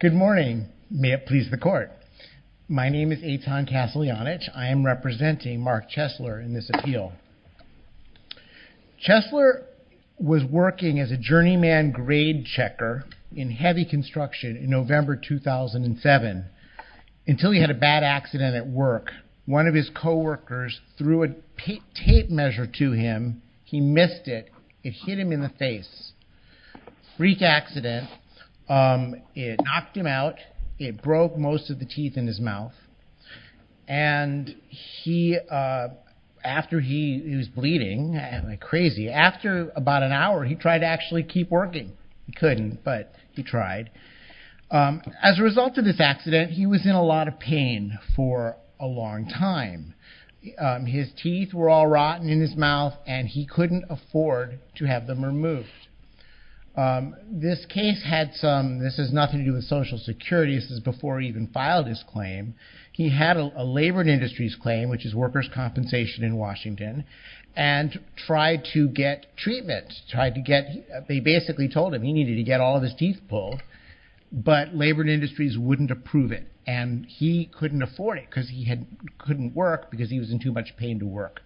Good morning may it please the court. My name is Eitan Kaslianich. I am representing Mark Chesler in this appeal. Chesler was working as a journeyman grade checker in heavy construction in November 2007 until he had a bad accident at work. One of his co-workers threw a tape measure to him. He missed it. It hit him in the face. Freak accident. It knocked him out. It broke most of the teeth in his mouth and he after he was bleeding and like crazy after about an hour he tried to actually keep working. He couldn't but he tried. As a result of this accident he was in a lot of pain for a long time. His teeth were all to have them removed. This case had some this is nothing to do with Social Security. This is before he even filed his claim. He had a labored industries claim which is workers compensation in Washington and tried to get treatment. Tried to get they basically told him he needed to get all of his teeth pulled but labored industries wouldn't approve it and he couldn't afford it because he had couldn't work because he was in too much pain to work.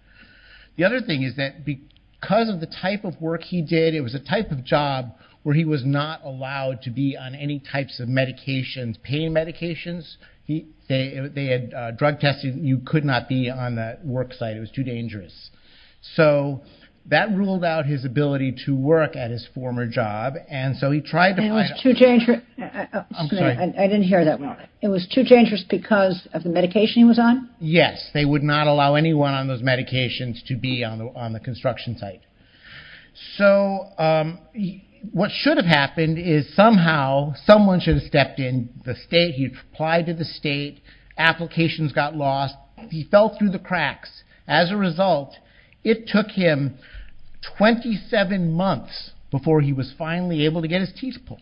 The other thing is that because of the type of work he did it was a type of job where he was not allowed to be on any types of medications pain medications. They had drug testing. You could not be on that work site. It was too dangerous. So that ruled out his ability to work at his former job and so he tried. It was too dangerous. I didn't hear that well. It was too dangerous because of the medication he was on? Yes they would not allow anyone on those medications to be on the construction site. So what should have happened is somehow someone should have stepped in the state. He applied to the state. Applications got lost. He fell through the cracks. As a result it took him 27 months before he was finally able to get his teeth pulled.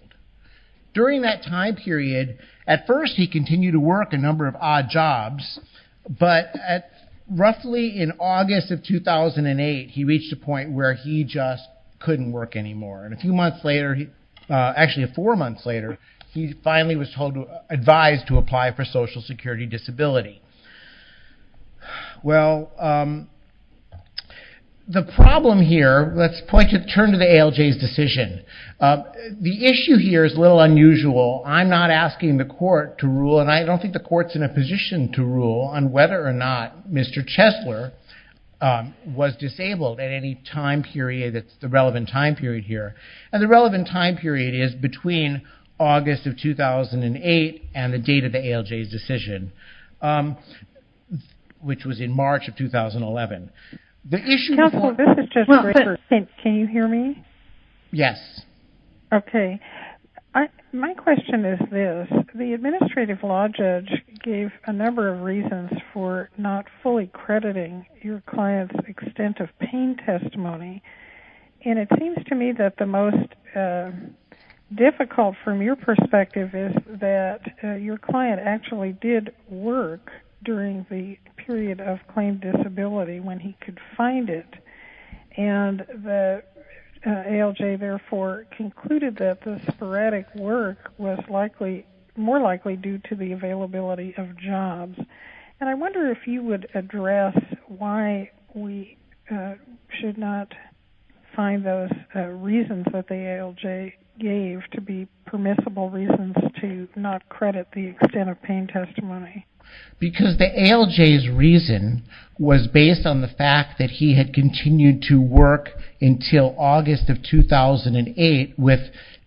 During that time period at first he continued to work a 2008 he reached a point where he just couldn't work anymore and a few months later he actually four months later he finally was told to advise to apply for social security disability. Well the problem here let's point to turn to the ALJ's decision. The issue here is a little unusual. I'm not asking the court to rule and I don't think the courts in a position to rule on whether or not Mr. Chesler was disabled at any time period that's the relevant time period here and the relevant time period is between August of 2008 and the date of the ALJ's decision which was in March of 2011. Can you hear me? Yes. Okay my question is this. The administrative law judge gave a number of reasons for not fully crediting your client's extent of pain testimony and it seems to me that the most difficult from your perspective is that your client actually did work during the period of claim disability when he could find it and the ALJ therefore concluded that the erratic work was likely more likely due to the availability of jobs and I wonder if you would address why we should not find those reasons that the ALJ gave to be permissible reasons to not credit the extent of pain testimony. Because the ALJ's reason was based on the fact that he had continued to work until August of 2008 with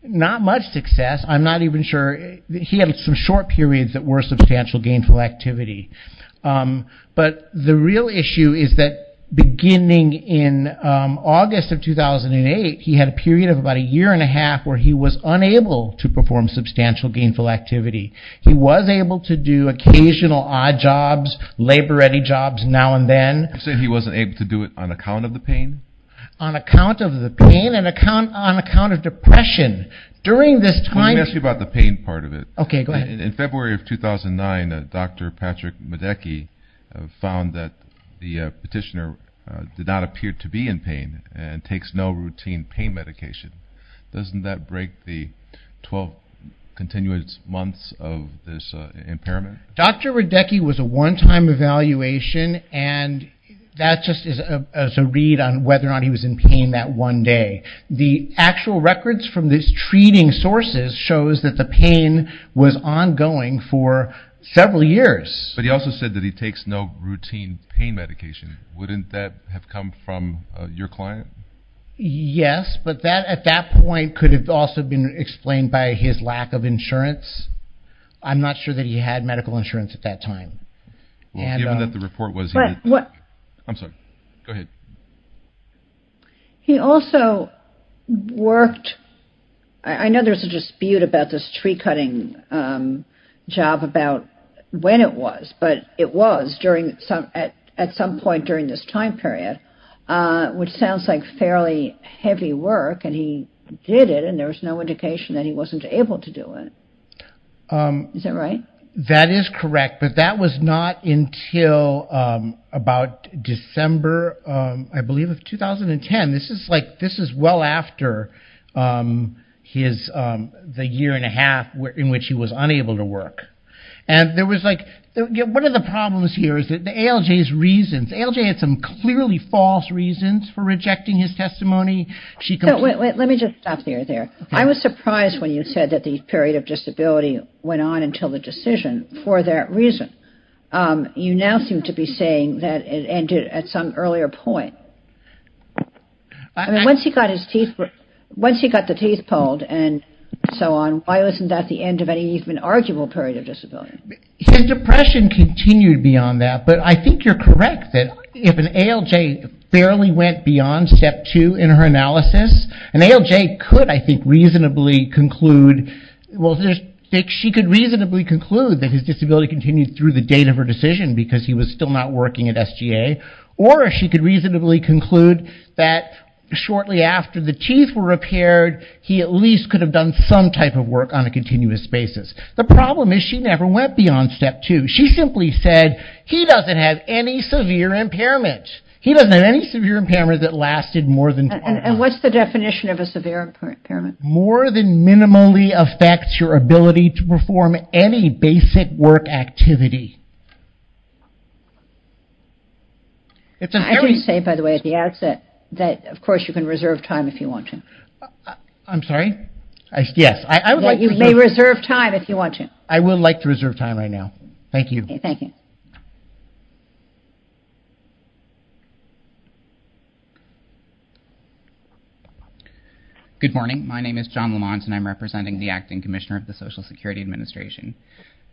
not much success I'm not even sure he had some short periods that were substantial gainful activity but the real issue is that beginning in August of 2008 he had a period of about a year and a half where he was unable to perform substantial gainful activity. He was able to do occasional odd jobs labor ready jobs now and then. So he wasn't able to do it on account of the pain? On account of depression? During this time. Let me ask you about the pain part of it. Okay go ahead. In February of 2009 Dr. Patrick Medecky found that the petitioner did not appear to be in pain and takes no routine pain medication. Doesn't that break the 12 continuous months of this impairment? Dr. Medecky was a one-time evaluation and that just is a read on whether or not he was in pain that one day. The actual records from these treating sources shows that the pain was ongoing for several years. But he also said that he takes no routine pain medication. Wouldn't that have come from your client? Yes but that at that point could have also been explained by his lack of insurance. I'm not sure that he had medical insurance at that time. He also worked I know there's a dispute about this tree-cutting job about when it was but it was during at some point during this time period which sounds like fairly heavy work and he did and there was no indication that he wasn't able to do it. Is that right? That is correct but that was not until about December I believe of 2010. This is like this is well after his the year and a half where in which he was unable to work and there was like one of the problems here is that the ALJ's reasons ALJ had some clearly false reasons for rejecting his testimony. Let me just stop there. I was surprised when you said that the period of disability went on until the decision for that reason. You now seem to be saying that it ended at some earlier point. Once he got his teeth once he got the teeth pulled and so on why wasn't that the end of any even arguable period of disability? His depression continued beyond that but I think you're correct that if an ALJ barely went beyond step two in her analysis an ALJ could I think reasonably conclude well she could reasonably conclude that his disability continued through the date of her decision because he was still not working at SGA or she could reasonably conclude that shortly after the teeth were repaired he at least could have done some type of work on a continuous basis. The problem is she never went beyond step two. She simply said he doesn't have any severe impairment. He doesn't have any severe impairment that lasted more than... And what's the definition of a severe impairment? More than minimally affects your ability to perform any basic work activity. It's a very... I can say by the way at the outset that of course you can reserve time if you want to. I'm sorry? Yes. You may reserve time if you want to. I would like to reserve time right now. Thank you. Thank you. Good morning. My name is John Lamont and I'm representing the Acting Commissioner of the Social Security Administration.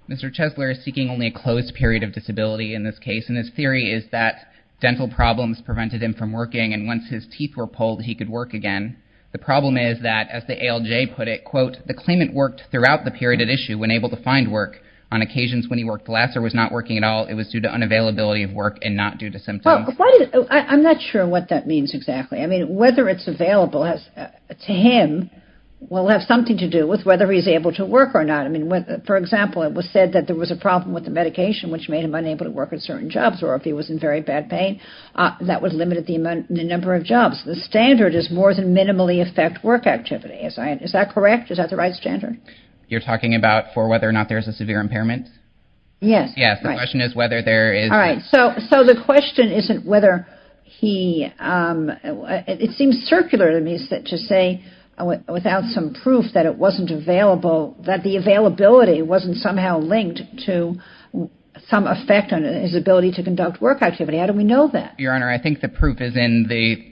Mr. Chesler is seeking only a closed period of disability in this case and his theory is that dental problems prevented him from working and once his teeth were pulled he could work again. The problem is that as the ALJ put it quote the claimant worked throughout the period at issue when able to find work. On occasions when he worked less or was not working at all it was due to unavailability of work and not due to symptoms. I'm not sure what that means exactly. I mean whether it's available to him will have something to do with whether he's able to work or not. I mean with for example it was said that there was a problem with the medication which made him unable to work at certain jobs or if he was in very bad pain that would limit the number of jobs. The standard is more than minimally affect work activity. Is that correct? Is that the right standard? You're talking about for whether or not there's a severe impairment? Yes. Yes the question is whether there is. All right so so the question isn't whether he it seems circular to me to say without some proof that it wasn't available that the availability wasn't somehow linked to some effect on his ability to conduct work activity. How do we know that? Your Honor I think the proof is in the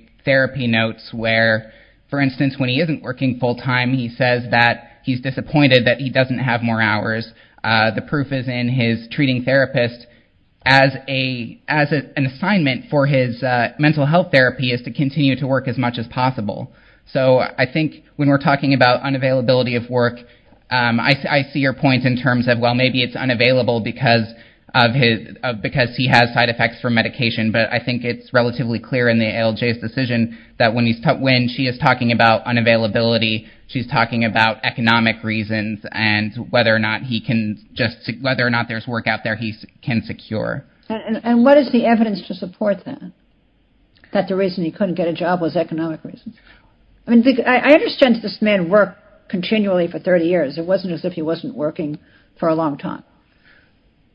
working full-time. He says that he's disappointed that he doesn't have more hours. The proof is in his treating therapist as a as an assignment for his mental health therapy is to continue to work as much as possible. So I think when we're talking about unavailability of work I see your point in terms of well maybe it's unavailable because of his because he has side effects from medication but I think it's relatively clear in the ALJ's decision that when she is talking about unavailability she's talking about economic reasons and whether or not he can just whether or not there's work out there he can secure. And what is the evidence to support that? That the reason he couldn't get a job was economic reasons? I mean I understand this man worked continually for 30 years. It wasn't as if he wasn't working for a long time.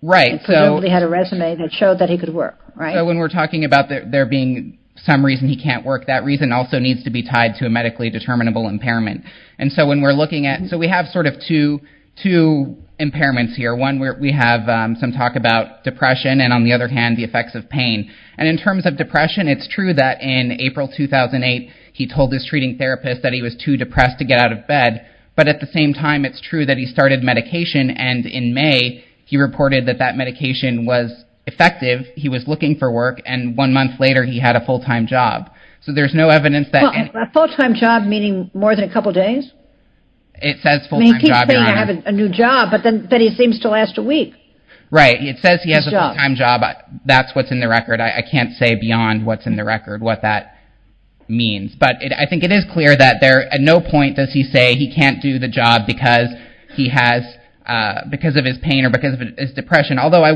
Right. So he had a resume that showed that he could work. Right. So when we're talking about there being some reason he can't work that reason also needs to be tied to a medically determinable impairment. And so when we're looking at so we have sort of two two impairments here. One where we have some talk about depression and on the other hand the effects of pain. And in terms of depression it's true that in April 2008 he told his treating therapist that he was too depressed to get out of bed. But at the same time it's true that he started medication and in May he reported that that medication was effective. He was looking for work and one month later he had a full time job. So there's no evidence that a full time job meaning more than a couple of days. It says full time job. I have a new job but then he seems to last a week. Right. It says he has a full time job. That's what's in the record. I can't say beyond what's in the record what that means. But I think it is clear that there at no point does he say he can't do the job because he has because of his pain or because of his depression. Although I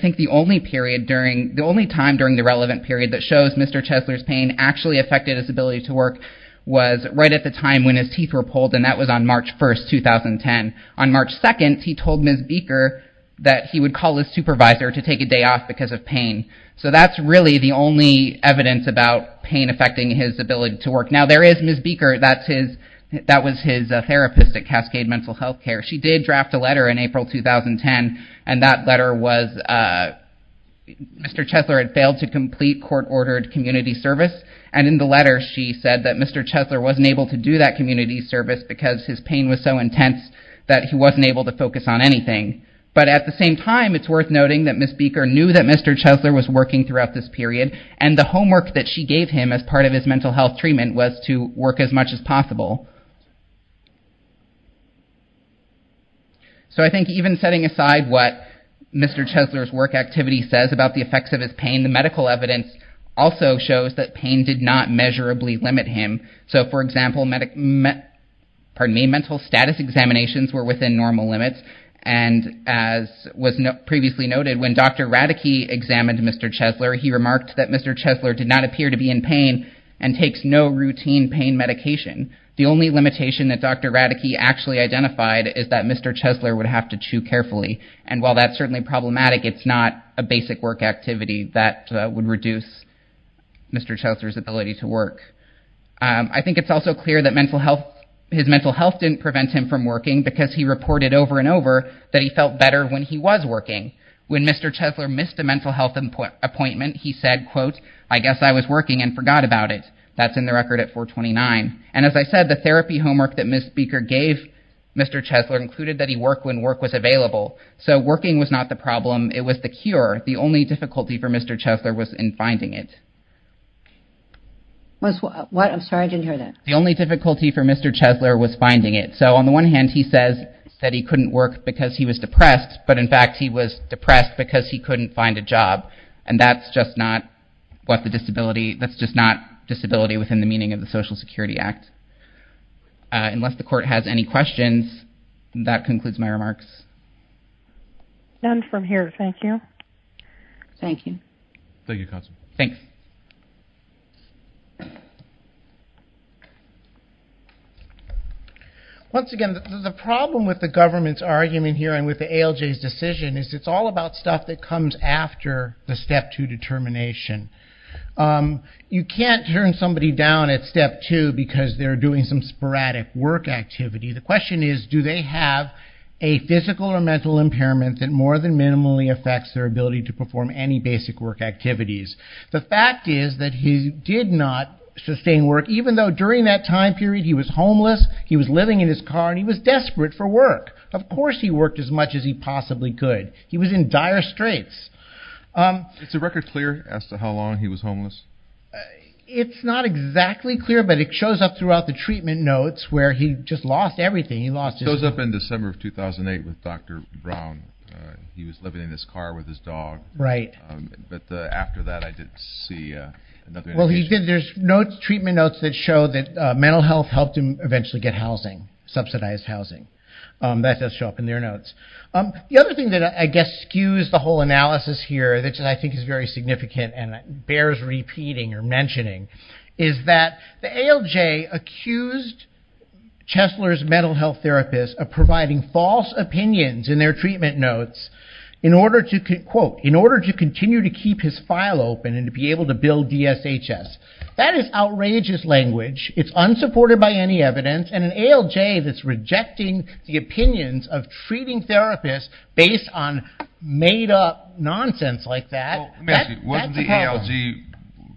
think the only period during the only time during the relevant period that shows Mr. Chesler's pain actually affected his ability to work was right at the time when his teeth were pulled and that was on March 1st 2010. On March 2nd he told Ms. Beaker that he would call his supervisor to take a day off because of pain. So that's really the only evidence about pain affecting his ability to work. Now there is Ms. Beaker that's his that was his therapist at Cascade Mental Health Care. She did draft a letter in April 2010 and that letter was Mr. Chesler had failed to complete court ordered community service. And in the letter she said that Mr. Chesler wasn't able to do that community service because his pain was so intense that he wasn't able to focus on anything. But at the same time it's worth noting that Ms. Beaker knew that Mr. Chesler was working throughout this period and the homework that she gave him as part of So I think even setting aside what Mr. Chesler's work activity says about the effects of his pain, the medical evidence also shows that pain did not measurably limit him. So for example, mental status examinations were within normal limits and as was previously noted when Dr. Radeke examined Mr. Chesler he remarked that Mr. Chesler did not appear to be in pain and the only limitation that Dr. Radeke actually identified is that Mr. Chesler would have to chew carefully. And while that's certainly problematic it's not a basic work activity that would reduce Mr. Chesler's ability to work. I think it's also clear that mental health his mental health didn't prevent him from working because he reported over and over that he felt better when he was working. When Mr. Chesler missed a mental health appointment he said quote I guess I was working and forgot about it. That's in the record at 429. And as I said the therapy homework that Ms. Beaker gave Mr. Chesler included that he worked when work was available. So working was not the problem it was the cure. The only difficulty for Mr. Chesler was in finding it. What I'm sorry I didn't hear that. The only difficulty for Mr. Chesler was finding it. So on the one hand he says that he couldn't work because he was depressed but in fact he was depressed because he couldn't find a job and that's just not what the disability that's just not disability within the meaning of the Social Security Act. Unless the court has any questions that concludes my remarks. None from here thank you. Thank you. Thank you Constable. Thanks. Once again the problem with the government's argument here and with the ALJ's decision is it's all about stuff that comes after the step to determination. You can't turn somebody down at step two because they're doing some sporadic work activity. The question is do they have a physical or mental impairment that more than minimally affects their ability to perform any basic work activities. The fact is that he did not sustain work even though during that time period he was homeless he was living in his car and he was desperate for work. Of course he worked as much as he possibly could. He was in clear as to how long he was homeless? It's not exactly clear but it shows up throughout the treatment notes where he just lost everything he lost. It shows up in December of 2008 with Dr. Brown. He was living in his car with his dog. Right. But after that I didn't see. Well he did there's notes treatment notes that show that mental health helped him eventually get housing subsidized housing. That does show up in their notes. The other thing that I guess skews the whole analysis here that I think is very significant and bears repeating or mentioning is that the ALJ accused Chesler's mental health therapist of providing false opinions in their treatment notes in order to quote in order to continue to keep his file open and to be able to build DSHS. That is outrageous language. It's unsupported by any evidence and an ALJ that's rejecting the opinions of patients. It's nonsense like that. Wasn't the ALJ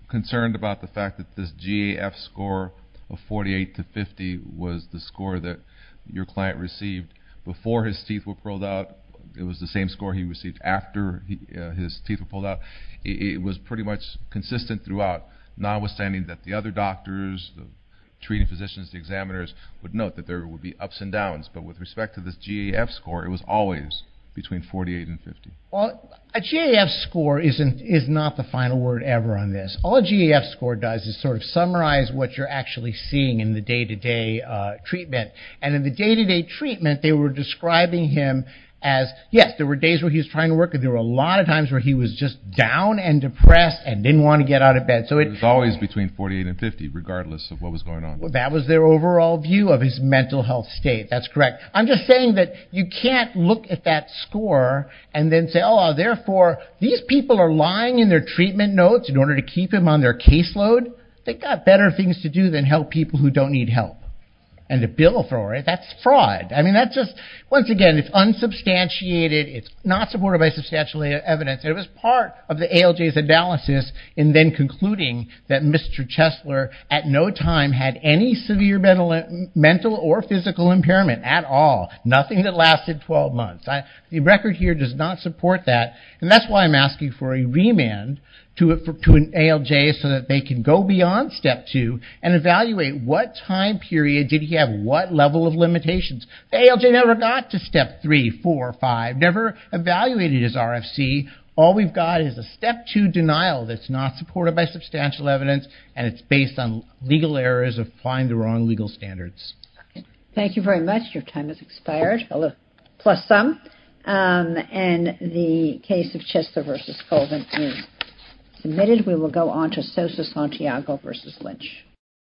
concerned about the fact that this GAF score of 48 to 50 was the score that your client received before his teeth were pulled out it was the same score he received after his teeth were pulled out. It was pretty much consistent throughout notwithstanding that the other doctors the treating physicians the examiners would note that there would be ups and downs but with GAF score isn't is not the final word ever on this. All GAF score does is sort of summarize what you're actually seeing in the day-to-day treatment and in the day-to-day treatment they were describing him as yes there were days where he's trying to work and there were a lot of times where he was just down and depressed and didn't want to get out of bed so it's always between 48 and 50 regardless of what was going on. Well that was their overall view of his mental health state. That's correct. I'm just saying that you can't look at that and then say oh therefore these people are lying in their treatment notes in order to keep him on their caseload. They've got better things to do than help people who don't need help and a bill thrower that's fraud I mean that's just once again it's unsubstantiated it's not supported by substantial evidence it was part of the ALJ's analysis and then concluding that Mr. Chesler at no time had any severe mental or physical impairment at all nothing that lasted 12 months. The record here does not support that and that's why I'm asking for a remand to an ALJ so that they can go beyond step 2 and evaluate what time period did he have what level of limitations. The ALJ never got to step 3, 4, 5 never evaluated his RFC all we've got is a step 2 denial that's not supported by substantial evidence and it's based on legal errors of applying the wrong legal standards. Thank you very much your time has expired plus some and the case of Chesler versus Colvin is submitted we will go on to Sosa Santiago versus Lynch